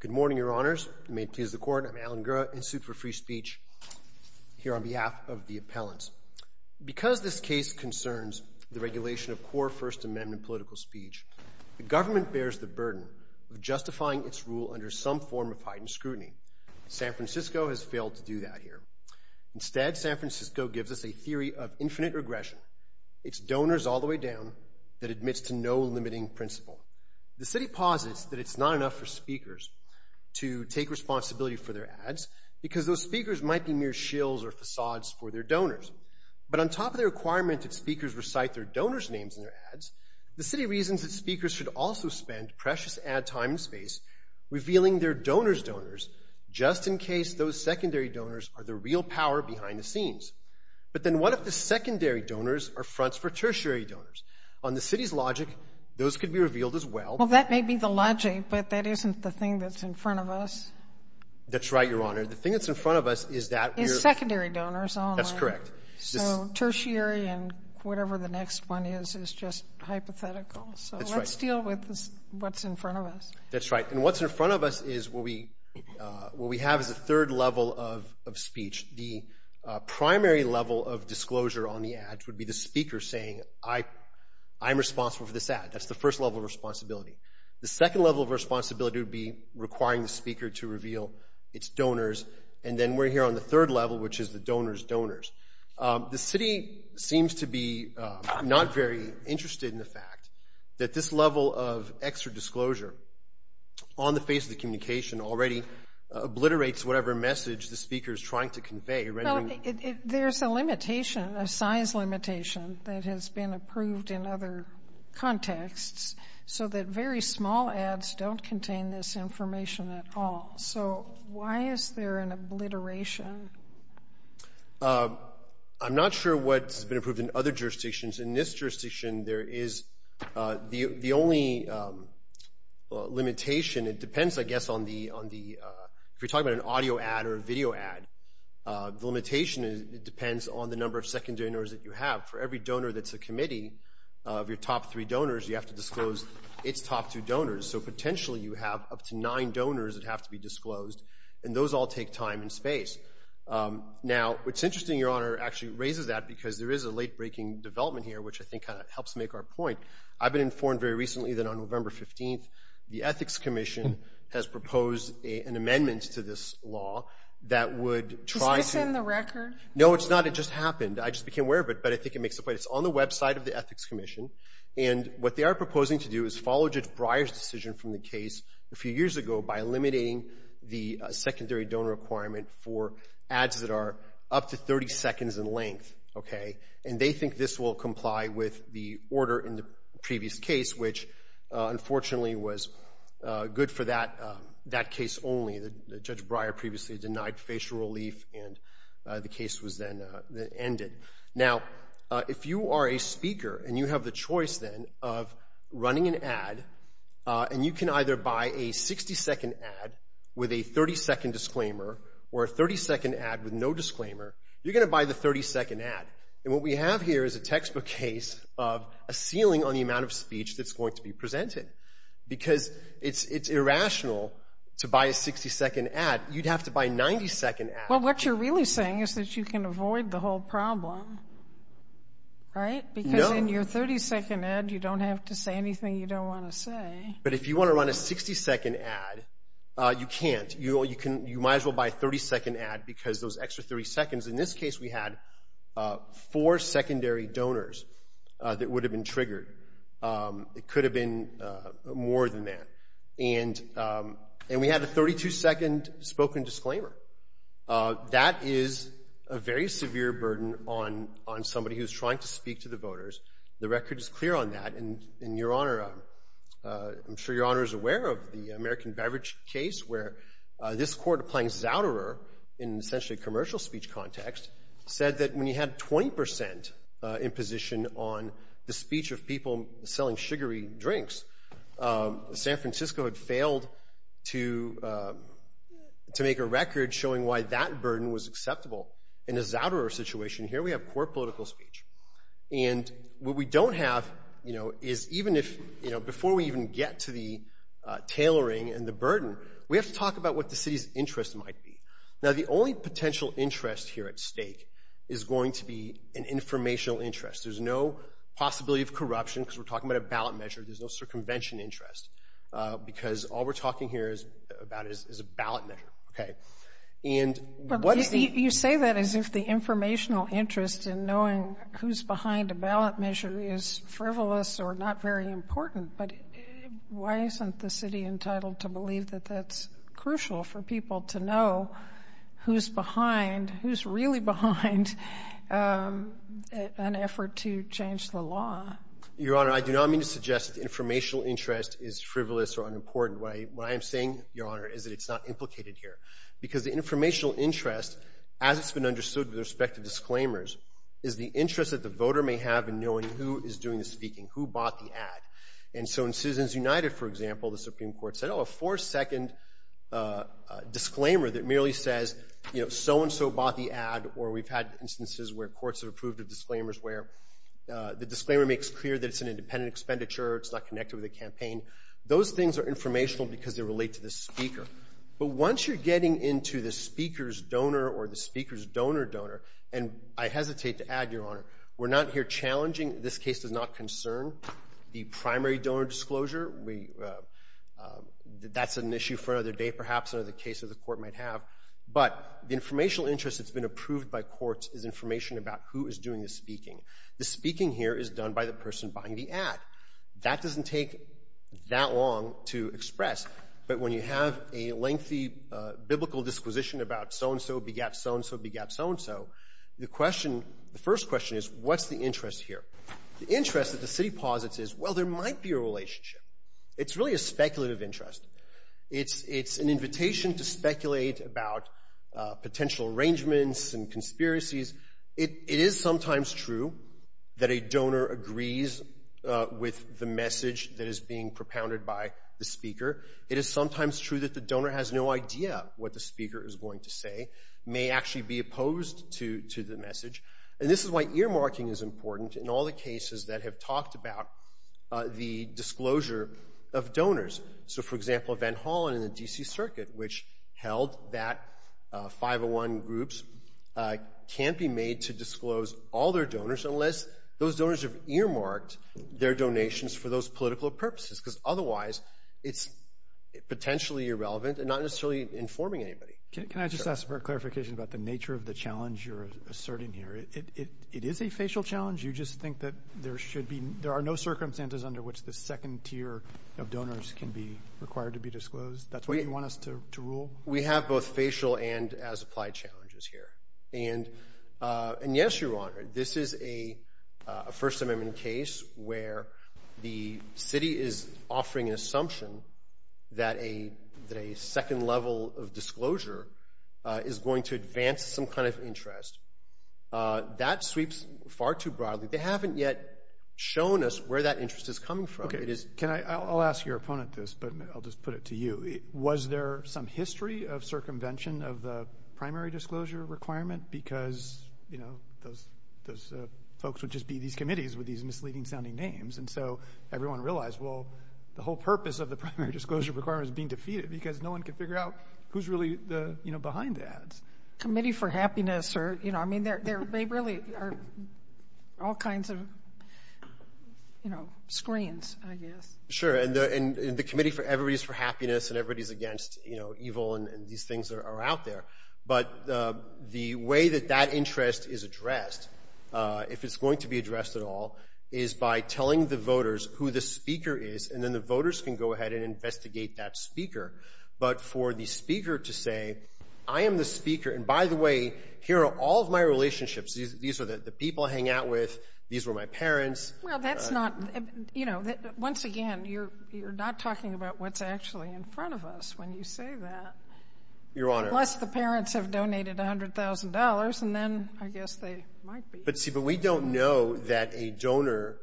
Good morning, Your Honors. May it please the Court, I'm Alan Gura, in suit for free speech here on behalf of the appellants. Because this case concerns the regulation of core First Amendment political speech, the government bears the burden of justifying its rule under some form of heightened scrutiny. San Francisco has failed to do that here. Instead, San Francisco gives us a theory of infinite regression. It's donors all the way down that admits to no limiting principle. The city posits that it's not enough for speakers to take responsibility for their ads, because those speakers might be mere shills or facades for their donors. But on top of the requirement that speakers recite their donors' names in their ads, the city reasons that speakers should also spend precious ad time and space revealing their donors' donors, just in case those secondary donors are the real power behind the scenes. But then what if the secondary donors are fronts for tertiary donors? On the city's logic, those could be revealed as well. Well, that may be the logic, but that isn't the thing that's in front of us. That's right, Your Honor. The thing that's in front of us is that we're Is secondary donors all in line. That's correct. So tertiary and whatever the next one is is just hypothetical. That's right. So let's deal with what's in front of us. That's right. And what's in front of us is what we have as a third level of primary level of disclosure on the ads would be the speaker saying, I'm responsible for this ad. That's the first level of responsibility. The second level of responsibility would be requiring the speaker to reveal its donors. And then we're here on the third level, which is the donors' donors. The city seems to be not very interested in the fact that this level of extra disclosure on the face of the communication already obliterates whatever message the speaker is trying to convey. Well, there's a limitation, a size limitation that has been approved in other contexts, so that very small ads don't contain this information at all. So why is there an obliteration? I'm not sure what's been approved in other jurisdictions. In this jurisdiction, there is the only limitation. It depends, I guess, on the, if you're talking about an audio ad or a video ad, the limitation is it depends on the number of secondary donors that you have. For every donor that's a committee of your top three donors, you have to disclose its top two donors. So potentially, you have up to nine donors that have to be disclosed, and those all take time and space. Now, what's interesting, Your Honor, actually raises that because there is a late-breaking development here, which I think kind of helps make our point. I've been informed very recently that on November 15th, the Ethics Commission has proposed an amendment to this law that would try to— Is this in the record? No, it's not. It just happened. I just became aware of it, but I think it makes a point. It's on the website of the Ethics Commission, and what they are proposing to do is follow Judge Breyer's decision from the case a few years ago by eliminating the secondary donor requirement for ads that are up to 30 seconds in length, okay? And they think this will comply with the order in the previous case, which, unfortunately, was good for that case only. Judge Breyer previously denied facial relief, and the case was then ended. Now, if you are a speaker and you have the choice, then, of running an ad, and you can either buy a 60-second ad with a 30-second disclaimer or a 30-second ad with no disclaimer, you're going to buy the 30-second ad. And what we have here is a textbook case of a ceiling on the amount of speech that's going to be presented, because it's irrational to buy a 60-second ad. You'd have to buy a 90-second ad. Well, what you're really saying is that you can avoid the whole problem, right? No. Because in your 30-second ad, you don't have to say anything you don't want to say. But if you want to run a 60-second ad, you can't. You might as well buy a 30-second ad, because those extra 30 seconds, in this case, we had four secondary donors that would have been triggered. It could have been more than that. And we had a 32-second spoken disclaimer. That is a very severe burden on somebody who's trying to speak to the voters. The record is clear on that. And, Your Honor, I'm sure Your Honor is aware of the American Beverage case, where this court, applying Zauderer in essentially a commercial speech context, said that when you had 20 percent imposition on the speech of people selling sugary drinks, San Francisco had failed to make a record showing why that burden was acceptable. In a Zauderer situation here, we have poor political And what we don't have, you know, is even if, you know, before we even get to the tailoring and the burden, we have to talk about what the city's interest might be. Now, the only potential interest here at stake is going to be an informational interest. There's no possibility of corruption, because we're talking about a ballot measure. There's no circumvention interest, because all we're talking here about is a ballot measure, okay? And what is the You say that as if the informational interest in knowing who's behind a ballot measure is frivolous or not very important. But why isn't the city entitled to believe that that's crucial for people to know who's behind, who's really behind an effort to change the law? Your Honor, I do not mean to suggest informational interest is frivolous or unimportant. What I am saying, Your Honor, is that it's not implicated here. Because the informational interest, as it's been understood with respect to disclaimers, is the interest that the voter may have in knowing who is doing the speaking, who bought the ad. And so in Citizens United, for example, the Supreme Court said, oh, a four-second disclaimer that merely says, you know, so-and-so bought the ad, or we've had instances where courts have approved of disclaimers where the disclaimer makes clear that it's an independent expenditure, it's not connected with the campaign. Those things are informational because they relate to the speaker. But once you're getting into the speaker's donor or the speaker's donor-donor, and I hesitate to add, Your Honor, we're not here challenging. This case does not concern the primary donor disclosure. That's an issue for another day, perhaps, another case that the court might have. But the informational interest that's been approved by courts is information about who is doing the speaking. The speaking here is done by the person buying the ad. That doesn't take that long to express. But when you have a lengthy biblical disquisition about so-and-so begat so-and-so begat so-and-so, the question, the first question is, what's the interest here? The interest that the city posits is, well, there might be a relationship. It's really a speculative interest. It's an invitation to speculate about potential arrangements and conspiracies. It is sometimes true that a donor agrees with the message that is being propounded by the speaker. It is sometimes true that the donor has no idea what the speaker is going to say, may actually be opposed to the message. And this is why earmarking is important in all the cases that have talked about the disclosure of donors. So, for example, Van Hollen in the D.C. Circuit, which held that 501 groups can't be made to disclose all their donors unless those donors have earmarked their donations for those political purposes because otherwise it's potentially irrelevant and not necessarily informing anybody. Can I just ask for a clarification about the nature of the challenge you're asserting here? It is a facial challenge. You just think that there should be, there are no circumstances under which the second tier of donors can be required to be disclosed. That's what you want us to rule? We have both facial and as applied challenges here. And yes, Your Honor, this is a First Amendment case where the city is offering an assumption that a second level of disclosure is going to advance some kind of interest. That sweeps far too broadly. They haven't yet shown us where that interest is coming from. Okay. Can I, I'll ask your opponent this, but I'll just put it to you. Was there some history of circumvention of the primary disclosure requirement? Because, you know, those folks would just be these committees with these misleading sounding names. And so everyone realized, well, the whole purpose of the primary disclosure requirement is being defeated because no one can figure out who's really the, you know, behind the ads. Committee for happiness or, you know, I mean, they really are all kinds of, you know, screens, I guess. Sure. And the committee for, everybody's for happiness and everybody's against, you know, evil and these things are out there. But the way that that interest is addressed, if it's going to be addressed at all, is by telling the voters who the speaker is, and then the voters can go ahead and investigate that speaker. But for the speaker to say, I am the speaker. And by the way, here are all of my relationships. These are the people I hang out with. These were my parents. Well, that's not, you know, once again, you're not talking about what's actually in front of us when you say that. Your Honor. Plus the parents have donated $100,000 and then I guess they might be. But see, but we don't know that a donor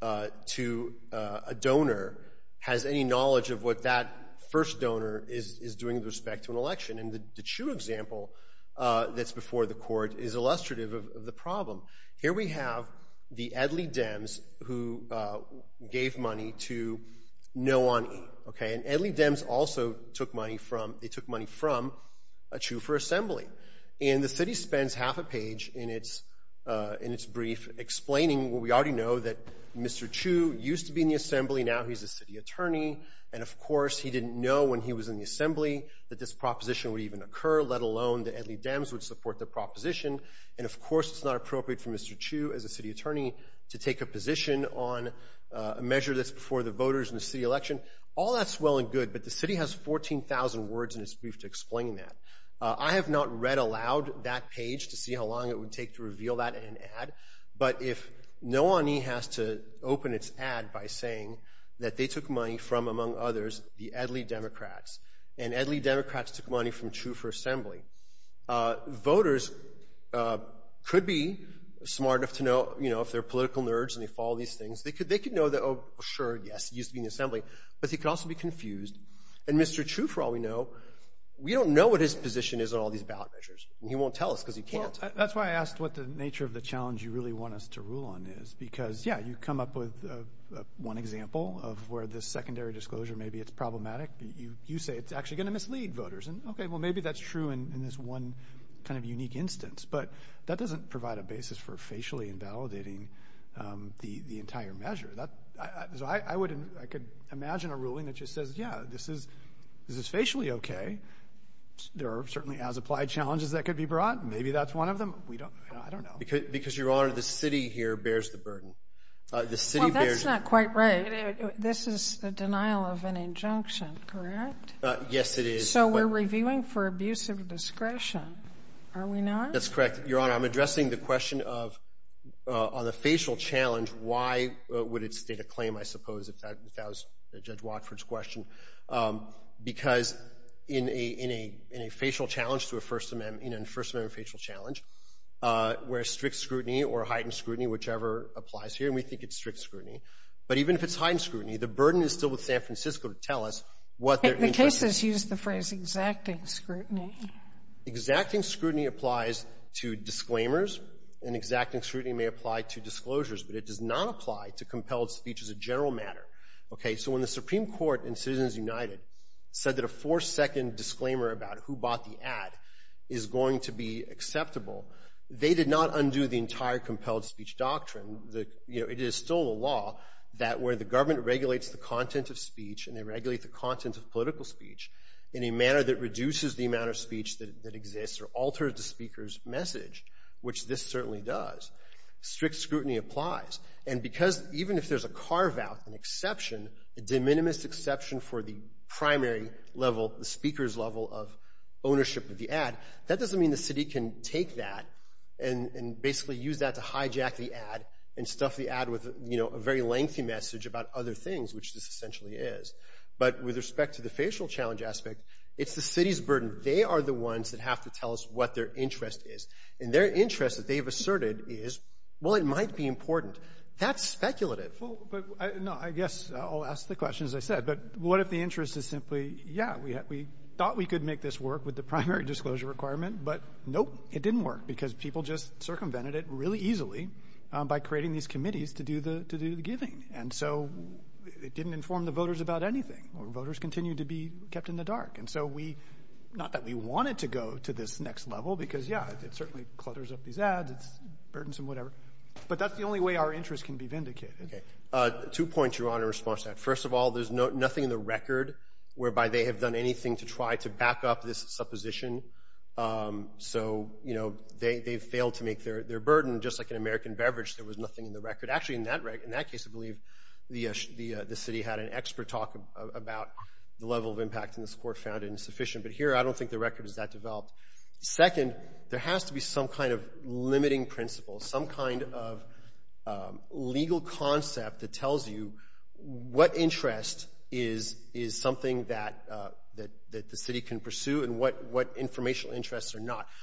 to a donor has any knowledge of what that first donor is doing with respect to an election. And the Chu example that's before the court is illustrative of the problem. Here we have the Edley Dems who gave money to no one. Okay. And Edley Dems also took money from, they took money from a Chu for assembly. And the city spends half a page in its brief explaining what we already know that Mr. Chu used to be in the assembly. Now he's a city attorney. And of course, he didn't know when he was in the assembly that this proposition would even occur, let alone the Edley Dems would support the proposition. And of course, it's not appropriate for Mr. Chu as a city attorney to take a position on a measure that's before the voters in the city election. All that's well and good, but the city has 14,000 words in its brief to explain that. I have not read aloud that page to see how long it would take to reveal that in an ad. But if no one has to open its ad by saying that they took money from, among others, the Edley Democrats, and Edley Democrats took money from Chu for assembly, voters could be smart enough to know, you know, if they're political nerds and they follow these things, they could know that, oh, sure, yes, he used to be in the assembly. But he could also be confused. And Mr. Chu, for all we know, we don't know what his position is on all these ballot measures. And he won't tell us because he can't. Well, that's why I asked what the nature of the challenge you really want us to rule on is. Because, yeah, you come up with one example of where this secondary disclosure maybe it's problematic. You say it's actually going to mislead voters. And okay, well, maybe that's true in this one kind of unique instance. But that doesn't provide a basis for facially invalidating the entire measure. So I could imagine a ruling that just says, yeah, this is facially okay. There are certainly as applied challenges that could be brought. Maybe that's one of them. I don't know. Because, Your Honor, the city here bears the burden. The city bears the burden. That's not quite right. This is the denial of an injunction, correct? Yes, it is. So we're reviewing for abuse of discretion, are we not? That's correct. Your Honor, I'm addressing the question of on the facial challenge, why would it state a claim, I suppose, if that was Judge Watford's question. Because in a facial challenge to a First Amendment facial challenge, where strict scrutiny or heightened scrutiny, whichever applies here, we think it's strict scrutiny. But even if it's heightened scrutiny, the burden is still with San Francisco to tell us what their interest is. The case has used the phrase exacting scrutiny. Exacting scrutiny applies to disclaimers. And exacting scrutiny may apply to disclosures. But it does not apply to compelled speech as a general matter. Okay? So when the Supreme Court in Citizens United said that a four-second disclaimer about who bought the ad is going to be acceptable, they did not undo the entire compelled speech doctrine. It is still a law that where the government regulates the content of speech and they regulate the content of political speech in a manner that reduces the amount of speech that exists or alters the speaker's message, which this certainly does, strict scrutiny applies. And because even if there's a carve-out, an exception, a de minimis exception for the primary level, the speaker's level of ownership of the ad, that doesn't mean the city can take that and basically use that to hijack the ad and stuff the ad with, you know, a very lengthy message about other things, which this essentially is. But with respect to the facial challenge aspect, it's the city's burden. They are the ones that have to tell us what their interest is. And their interest that they've asserted is, well, it might be important. That's speculative. Well, but no, I guess I'll ask the question, as I said. But what if the interest is simply, yeah, we thought we could make this work with the primary disclosure requirement, but nope, it didn't work, because people just circumvented it really easily by creating these committees to do the giving. And so it didn't inform the voters about anything. Voters continued to be kept in the dark. And so we — not that we wanted to go to this next level, because, yeah, it certainly clutters up these ads. It's burdensome, whatever. But that's the only way our interests can be vindicated. Okay. Two points, Your Honor, in response to that. First of all, there's nothing in the record whereby they have done anything to try to back up this supposition. So, you know, they've failed to make their burden. Just like an American beverage, there was nothing in the record. Actually, in that case, I believe, the city had an expert talk about the level of impact, and this court found it insufficient. But here, I don't think the record is that developed. Second, there has to be some kind of limiting principle, some kind of legal concept that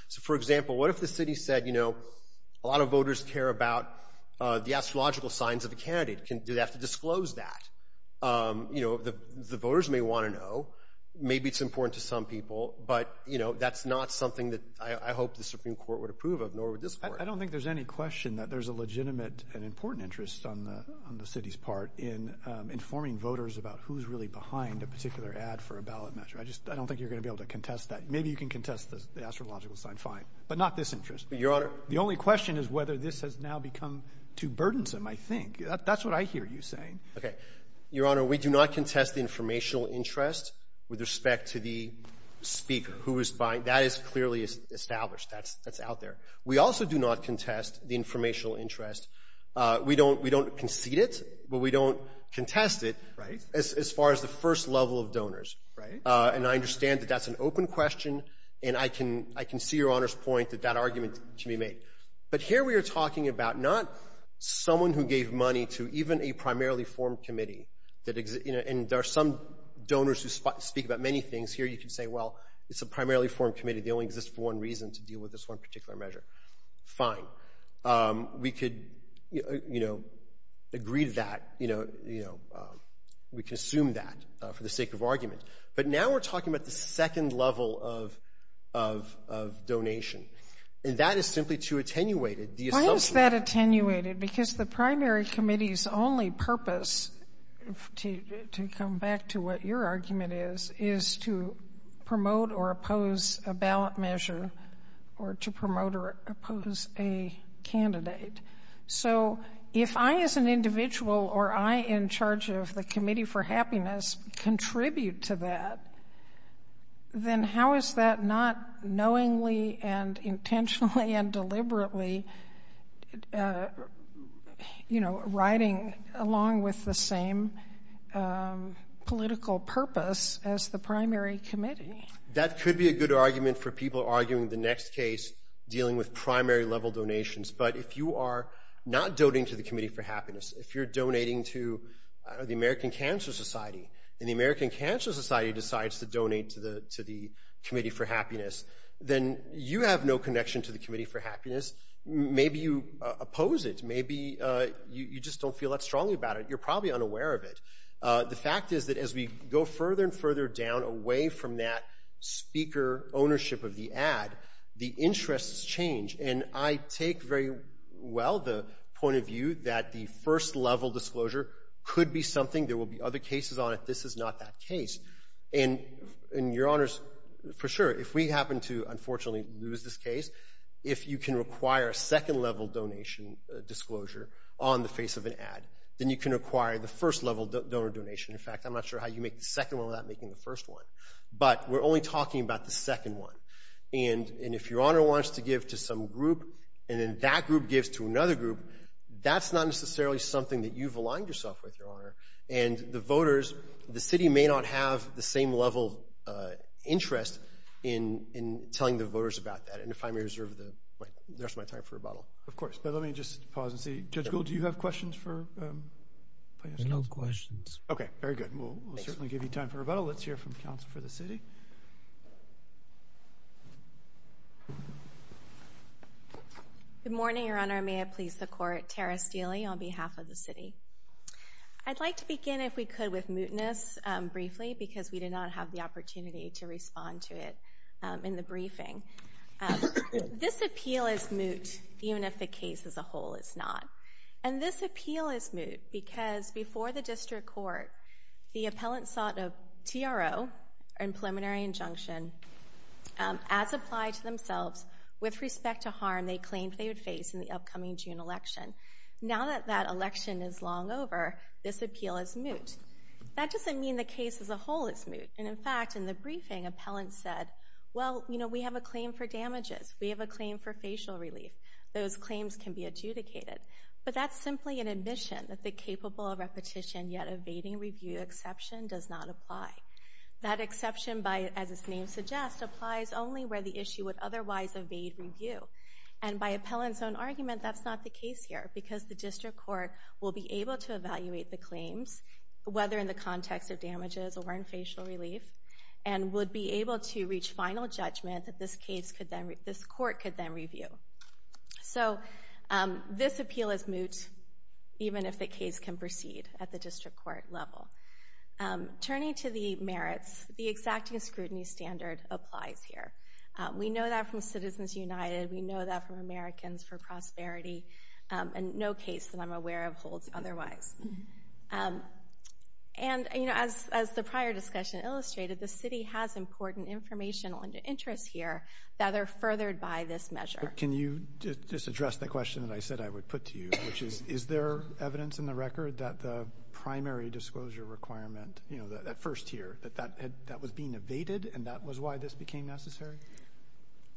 So, for example, what if the city said, you know, a lot of voters care about the astrological signs of a candidate? Do they have to disclose that? You know, the voters may want to know. Maybe it's important to some people. But, you know, that's not something that I hope the Supreme Court would approve of, nor would this court. I don't think there's any question that there's a legitimate and important interest on the city's part in informing voters about who's really behind a particular ad for a ballot measure. I just — I don't think you're going to be able to contest that. Maybe you can contest the astrological sign, fine, but not this interest. But, Your Honor — The only question is whether this has now become too burdensome, I think. That's what I hear you saying. Okay. Your Honor, we do not contest the informational interest with respect to the speaker who is buying. That is clearly established. That's out there. We also do not contest the informational interest. We don't concede it, but we don't contest it — Right. — as far as the first level of donors. Right. And I understand that that's an open question, and I can see Your Honor's point that that argument can be made. But here we are talking about not someone who gave money to even a primarily formed committee that — you know, and there are some donors who speak about many things. Here you can say, well, it's a primarily formed committee. They only exist for one reason, to deal with this one particular measure. Fine. We could, you know, agree to that. You know, we can assume that for the sake of argument. But now we're talking about the second level of donation. And that is simply too attenuated. The assumption — Why is that attenuated? Because the primary committee's only purpose, to come back to what your argument is, is to promote or oppose a ballot measure or to promote or oppose a candidate. So if I, as an individual, or I in charge of the committee, can contribute to that, then how is that not knowingly and intentionally and deliberately, you know, riding along with the same political purpose as the primary committee? That could be a good argument for people arguing the next case, dealing with primary level donations. But if you are not donating to the Committee for Happiness, then you have no connection to the Committee for Happiness. Maybe you oppose it. Maybe you just don't feel that strongly about it. You're probably unaware of it. The fact is that as we go further and further down, away from that speaker ownership of the ad, the interests change. And I take very well the point of view that the first level disclosure could be something. There will be other cases on it. This is not that case. And your Honors, for sure, if we happen to, unfortunately, lose this case, if you can require a second level donation disclosure on the face of an ad, then you can require the first level donor donation. In fact, I'm not sure how you make the second one without making the first one. But we're only talking about the second one. And if your Honor wants to give to some group, and then that group gives to another group, that's not necessarily something that you've aligned yourself with, your Honor. And the voters, the city may not have the same level of interest in telling the voters about that. And if I may reserve the rest of my time for rebuttal. Of course. But let me just pause and see. Judge Gould, do you have questions for? No questions. Okay, very good. We'll certainly give you time for rebuttal. Let's hear from Council for the City. Good morning, Your Honor. May it please the Court. Tara Steele, on behalf of the City. I'd like to begin, if we could, with mootness briefly, because we did not have the opportunity to respond to it in the briefing. This appeal is moot, even if the case as a whole is not. And this appeal is moot because before the District Court, the appellant sought a TRO, or Preliminary Injunction, as applied to themselves with respect to harm they claimed they would face in the upcoming June election. Now that that election is long over, this appeal is moot. That doesn't mean the case as a whole is moot. And in fact, in the briefing, appellants said, well, you know, we have a claim for damages. We have a claim for facial relief. Those claims can be adjudicated. But that's simply an incapable of repetition, yet evading review exception does not apply. That exception, as its name suggests, applies only where the issue would otherwise evade review. And by appellant's own argument, that's not the case here. Because the District Court will be able to evaluate the claims, whether in the context of damages or in facial relief, and would be able to reach final judgment that this case could then, this court could then review. So this appeal is moot, even if the case can proceed at the District Court level. Turning to the merits, the exacting scrutiny standard applies here. We know that from Citizens United. We know that from Americans for Prosperity. And no case that I'm aware of holds otherwise. And, you know, as the prior discussion illustrated, the city has important informational interests here that are furthered by this measure. Can you just address the question that I said I would put to you, which is, is there evidence in the record that the primary disclosure requirement, you know, that first tier, that that was being evaded and that was why this became necessary?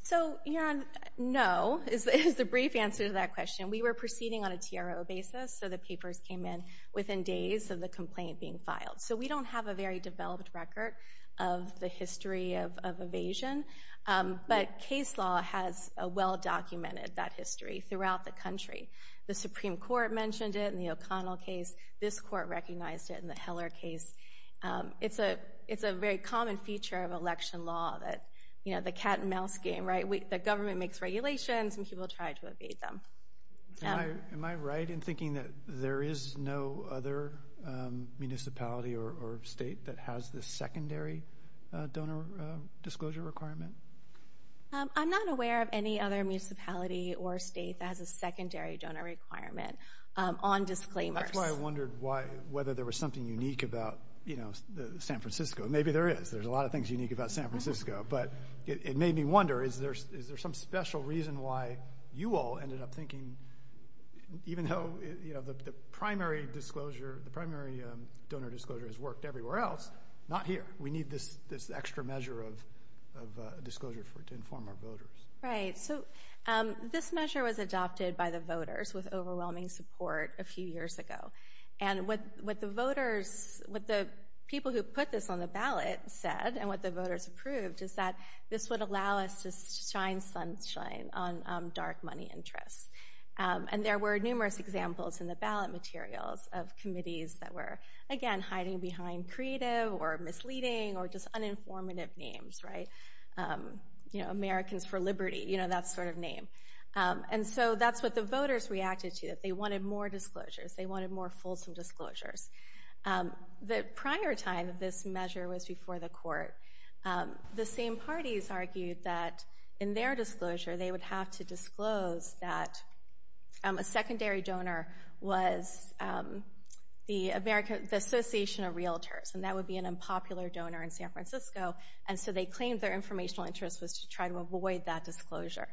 So, you know, no, is the brief answer to that question. We were proceeding on a TRO basis, so the papers came in within days of the complaint being filed. So we don't have a very developed record of the history of documented that history throughout the country. The Supreme Court mentioned it in the O'Connell case. This court recognized it in the Heller case. It's a, it's a very common feature of election law that, you know, the cat and mouse game, right? The government makes regulations and people try to evade them. Am I right in thinking that there is no other municipality or state that has this secondary donor requirement on disclaimers? That's why I wondered why, whether there was something unique about, you know, San Francisco. Maybe there is. There's a lot of things unique about San Francisco, but it made me wonder, is there, is there some special reason why you all ended up thinking, even though, you know, the primary disclosure, the primary donor disclosure has worked everywhere else, not here. We need this, this extra measure of disclosure for it to inform our voters. Right. So this measure was adopted by the voters with overwhelming support a few years ago. And what, what the voters, what the people who put this on the ballot said, and what the voters approved, is that this would allow us to shine sunshine on dark money interests. And there were numerous examples in the ballot materials of committees that were, again, hiding behind creative or you know, that sort of name. And so that's what the voters reacted to, that they wanted more disclosures. They wanted more fulsome disclosures. The prior time of this measure was before the court. The same parties argued that in their disclosure, they would have to disclose that a secondary donor was the American, the Association of Realtors, and that would be an unpopular donor in San Francisco. And so they claimed their informational interest was to try to disclosure.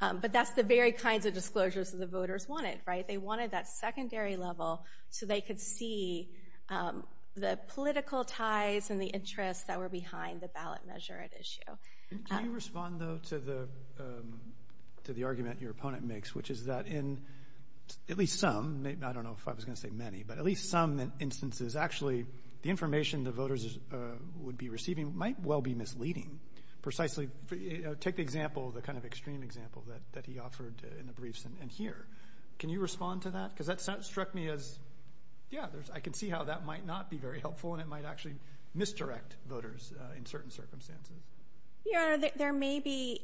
But that's the very kinds of disclosures that the voters wanted, right? They wanted that secondary level so they could see the political ties and the interests that were behind the ballot measure at issue. Can you respond, though, to the, to the argument your opponent makes, which is that in at least some, maybe, I don't know if I was going to say many, but at least some instances, actually, the information the voters would be receiving might well be misleading. Precisely, take the example, the kind of extreme example that he offered in the briefs and here. Can you respond to that? Because that struck me as, yeah, there's, I can see how that might not be very helpful and it might actually misdirect voters in certain circumstances. Your Honor, there may be,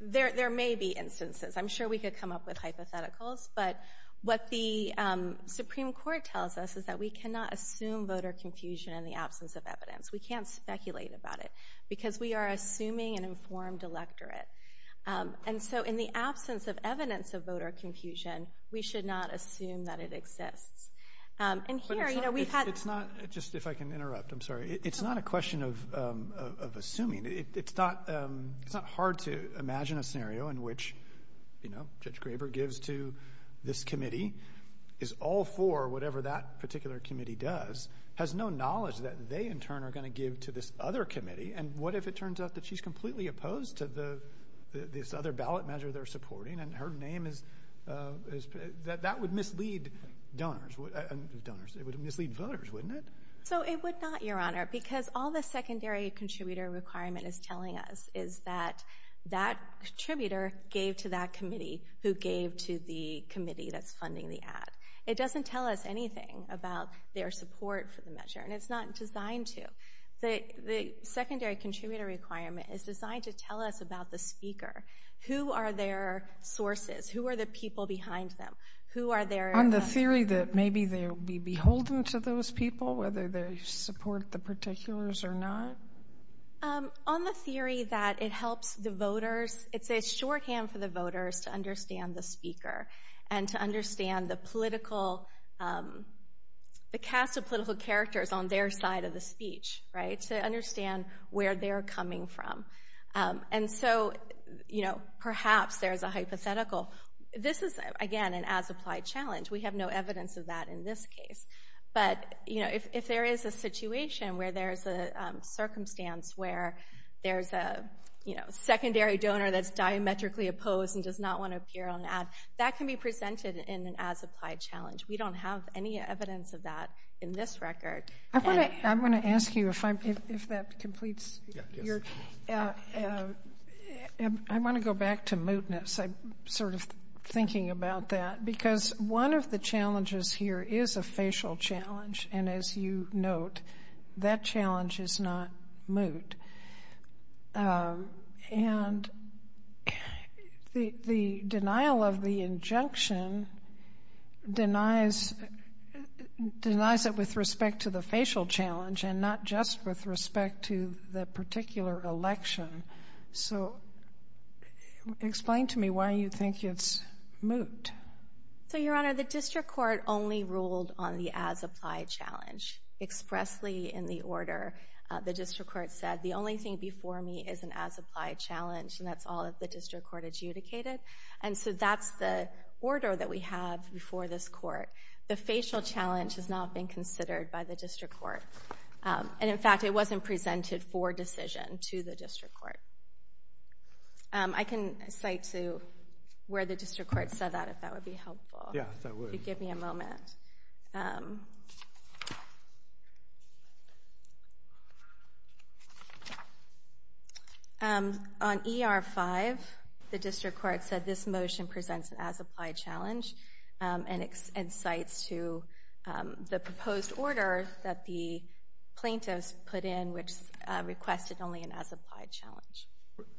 there may be instances. I'm sure we could come up with hypotheticals, but what the Supreme Court tells us is that we cannot assume voter confusion in the case and we cannot speculate about it because we are assuming an informed electorate. And so, in the absence of evidence of voter confusion, we should not assume that it exists. And here, you know, we've had. It's not, just if I can interrupt, I'm sorry. It's not a question of assuming. It's not, it's not hard to imagine a scenario in which, you know, Judge Graber gives to this committee, is all for whatever that particular committee does, has no knowledge that they in turn are going to give to this other committee. And what if it turns out that she's completely opposed to the, this other ballot measure they're supporting and her name is, that would mislead donors, donors, it would mislead voters, wouldn't it? So, it would not, Your Honor, because all the secondary contributor requirement is telling us is that that contributor gave to that committee who gave to the committee that's funding the ad. It doesn't tell us anything about their support for the measure. And it's not designed to. The secondary contributor requirement is designed to tell us about the speaker. Who are their sources? Who are the people behind them? Who are their. On the theory that maybe they'll be beholden to those people, whether they support the particulars or not? On the theory that it helps the voters, it's a shorthand for the voters to understand the speaker and to understand the political, the cast of political characters on their side of the speech, right? To understand where they're coming from. And so, you know, perhaps there's a hypothetical. This is, again, an as-applied challenge. We have no evidence of that in this case. But, you know, if there is a situation where there's a circumstance where there's a, you know, secondary donor that's diametrically opposed and does not want to appear on an ad, that can be presented in an as-applied challenge. We don't have any evidence of that in this record. I want to, I'm going to ask you if I'm, if that completes your, I want to go back to mootness. I'm sort of thinking about that. Because one of the challenges here is a facial challenge. And as you note, that challenge is not moot. And the, the denial of the injunction denies, denies it with respect to the facial challenge and not just with respect to the particular election. So, explain to me why you think it's moot? So, Your Honor, the district court only ruled on the as-applied challenge. Expressly in the order, the district court said, the only thing before me is an as-applied challenge. And that's all that the district court adjudicated. And so that's the order that we have before this court. The facial challenge has not been considered by the district court. And, in fact, it wasn't presented for decision to the district court. I can cite to where the district court said that, if that would be helpful. Yeah, that would. If you could give me a moment. On ER-5, the district court said this motion presents an as-applied challenge. And it cites to the proposed order that the plaintiffs put in, which requested only an as-applied challenge.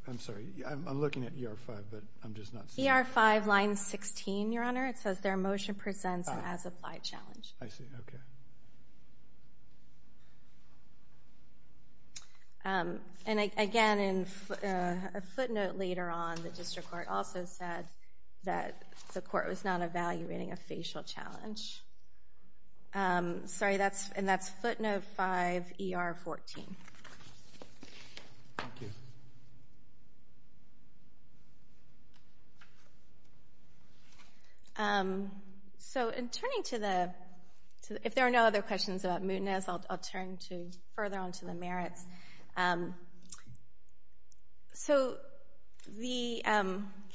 I'm sorry, I'm looking at ER-5, but I'm just not seeing it. ER-5, line 16, Your Honor. It says their motion presents an as-applied challenge. I see, okay. And again, a footnote later on, the district court also said that the court was not evaluating a facial challenge. Sorry, and that's footnote 5, ER-14. So, in turning to the, if there are no other questions about mootness, I'll turn to further on to the merits. So, the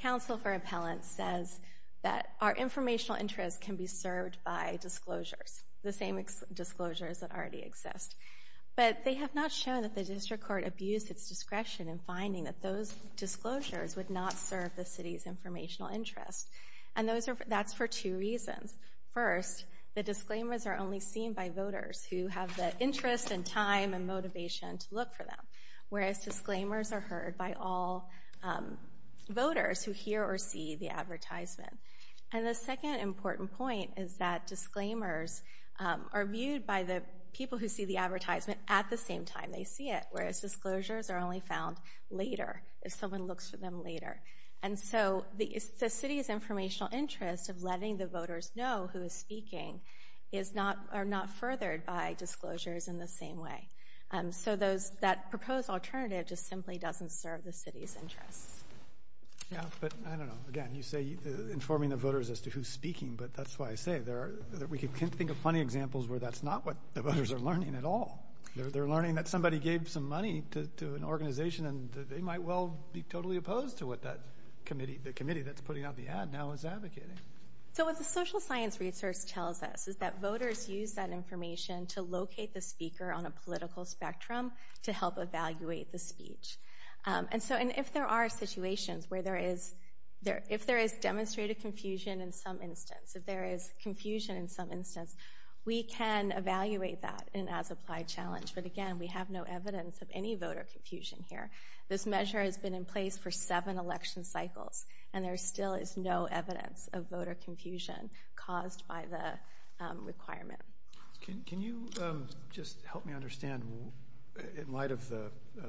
counsel for appellants says that our informational interest can be served by disclosures, the same disclosures that already exist. But they have not shown that the district court abused its discretion in finding that those disclosures would not serve the city's informational interest. And that's for two reasons. First, the disclaimers are only seen by voters who have the interest and time and motivation to look for them, whereas disclaimers are heard by all voters who hear or see the advertisement. And the second important point is that disclaimers are viewed by the people who see the advertisement at the same time they see it, whereas disclosures are only found later, if someone looks for them later. And so, the city's informational interest of letting the voters know who is speaking is not, are not furthered by disclosures in the same way. So those, that proposed alternative just simply doesn't serve the city's interests. Yeah, but I don't know. Again, you say informing the voters as to who's speaking, but that's why I say there are, we can think of plenty examples where that's not what the voters are learning at all. They're learning that somebody gave some money to an organization and they might well be totally opposed to what that committee, the committee that's putting out the ad now is advocating. So what the social science research tells us is that voters use that information to locate the speaker on a political spectrum to help evaluate the speech. And so, and if there are situations where there is there, if there is demonstrated confusion in some instance, if there is confusion in some instance, we can evaluate that in as applied challenge. But again, we have no evidence of any voter confusion here. This measure has been in place for seven election cycles and there still is no evidence of voter confusion caused by the requirement. Can you just help me understand, in light of the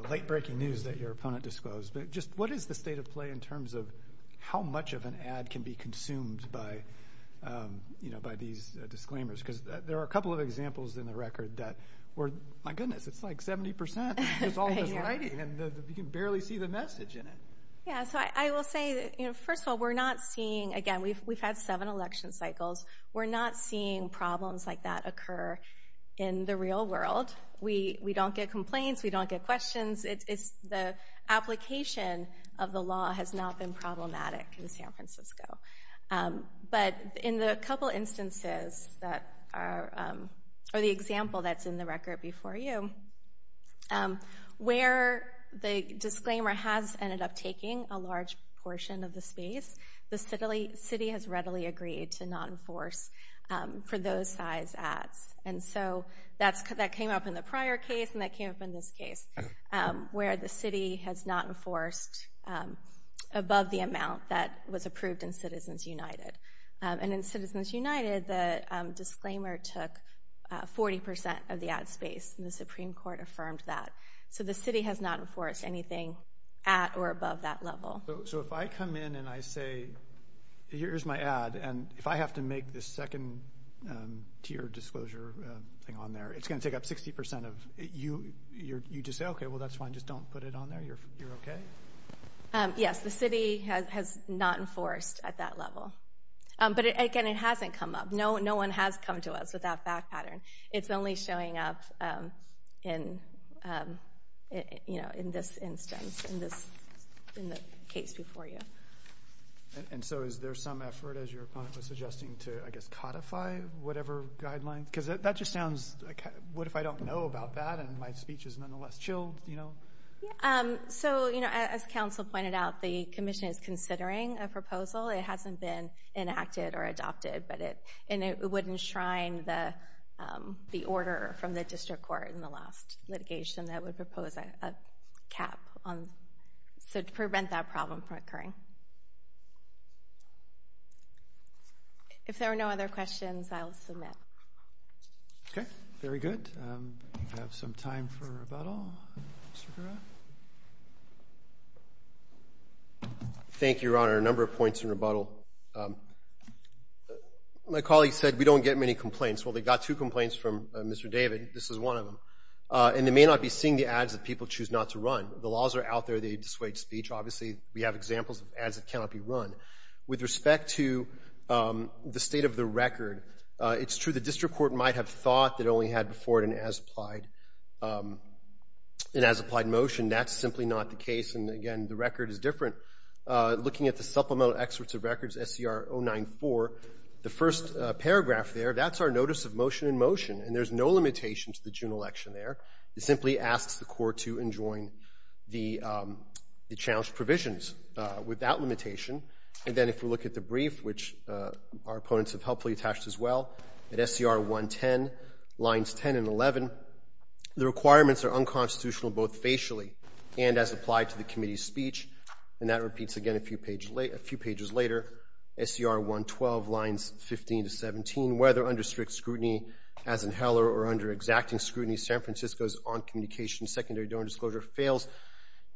late-breaking news that your opponent disclosed, but just what is the state of play in terms of how much of an ad can be consumed by, you know, by these disclaimers? Because there are a couple of examples in the world where, my goodness, it's like 70% and you can barely see the message in it. Yeah, so I will say, you know, first of all, we're not seeing, again, we've had seven election cycles, we're not seeing problems like that occur in the real world. We don't get complaints, we don't get questions, it's the application of the law has not been problematic in San Francisco. But in the couple of examples that are on the record before you, where the disclaimer has ended up taking a large portion of the space, the city has readily agreed to not enforce for those size ads. And so that came up in the prior case and that came up in this case, where the city has not enforced above the amount that was approved in Citizens United. And in Citizens United, the disclaimer took 40% of the ad space and the Supreme Court affirmed that. So the city has not enforced anything at or above that level. So if I come in and I say, here's my ad and if I have to make this second tier disclosure thing on there, it's gonna take up 60% of you, you just say, okay, well that's fine, just don't put it on there, you're okay? Yes, the city has not enforced at that level. But again, it is showing up in, you know, in this instance, in the case before you. And so is there some effort, as your opponent was suggesting, to, I guess, codify whatever guidelines? Because that just sounds like, what if I don't know about that and my speech is nonetheless chilled, you know? So, you know, as counsel pointed out, the Commission is considering a proposal. It hasn't been enacted or adopted, but it would enshrine the order from the District Court in the last litigation that would propose a cap on, so to prevent that problem from occurring. If there are no other questions, I'll submit. Okay, very good. We have some time for questions. As I said, we don't get many complaints. Well, they got two complaints from Mr. David, this is one of them. And they may not be seeing the ads that people choose not to run. The laws are out there, they dissuade speech. Obviously, we have examples of ads that cannot be run. With respect to the state of the record, it's true the District Court might have thought it only had before it an as-applied motion. That's simply not the case. And again, the record is different. Looking at the supplemental excerpts of records, SCR 094, the first paragraph there, that's our notice of motion in motion. And there's no limitation to the general action there. It simply asks the Court to enjoin the challenged provisions without limitation. And then if we look at the brief, which our opponents have helpfully attached as well, at SCR 110, lines 10 and 11, the requirements are unconstitutional both facially and as applied to the committee's speech. And that page, a few pages later, SCR 112, lines 15 to 17, whether under strict scrutiny as in Heller or under exacting scrutiny, San Francisco's on-communication secondary dormant disclosure fails,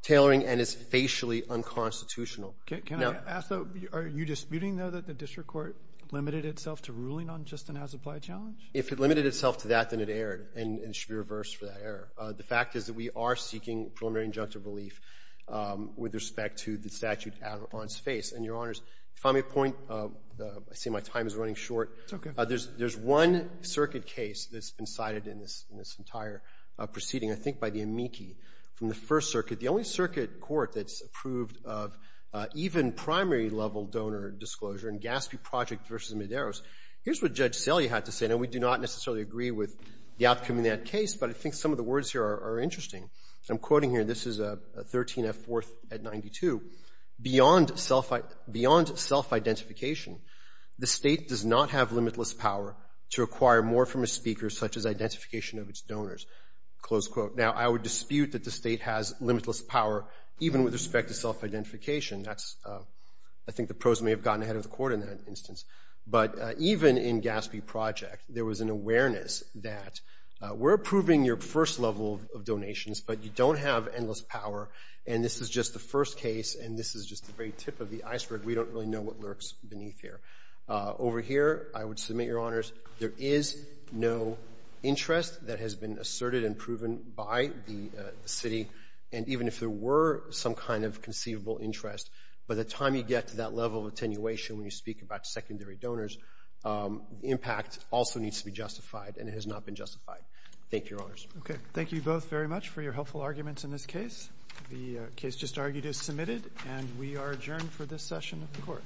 tailoring, and is facially unconstitutional. Now — Can I ask, though, are you disputing, though, that the District Court limited itself to ruling on just an as-applied challenge? If it limited itself to that, then it erred. And it should be reversed for that error. The fact is that we are seeking preliminary injunctive relief with respect to the statute on its face. And, Your Honors, if I may point, I see my time is running short. It's okay. There's one circuit case that's been cited in this entire proceeding, I think by the amici from the First Circuit, the only circuit court that's approved of even primary level donor disclosure in Gaspi Project v. Medeiros. Here's what Judge Celia had to say. Now, we do not necessarily agree with the outcome of that case, but I think some of the words here are interesting. I'm quoting here. This is a 13-F fourth at 92. Beyond self-identification, the State does not have limitless power to acquire more from a speaker such as identification of its donors, close quote. Now, I would dispute that the State has limitless power even with respect to self-identification. That's — I think the pros may have gotten ahead of the court in that instance. But even in Gaspi Project, there was an awareness that we're approving your first level of power, and this is just the first case, and this is just the very tip of the iceberg. We don't really know what lurks beneath here. Over here, I would submit, Your Honors, there is no interest that has been asserted and proven by the City. And even if there were some kind of conceivable interest, by the time you get to that level of attenuation when you speak about secondary donors, impact also needs to be justified, and it has not been justified. Thank you, Your Honors. Okay. Thank you both very much for your helpful arguments in this case. The case just argued is submitted, and we are adjourned for this session of the court.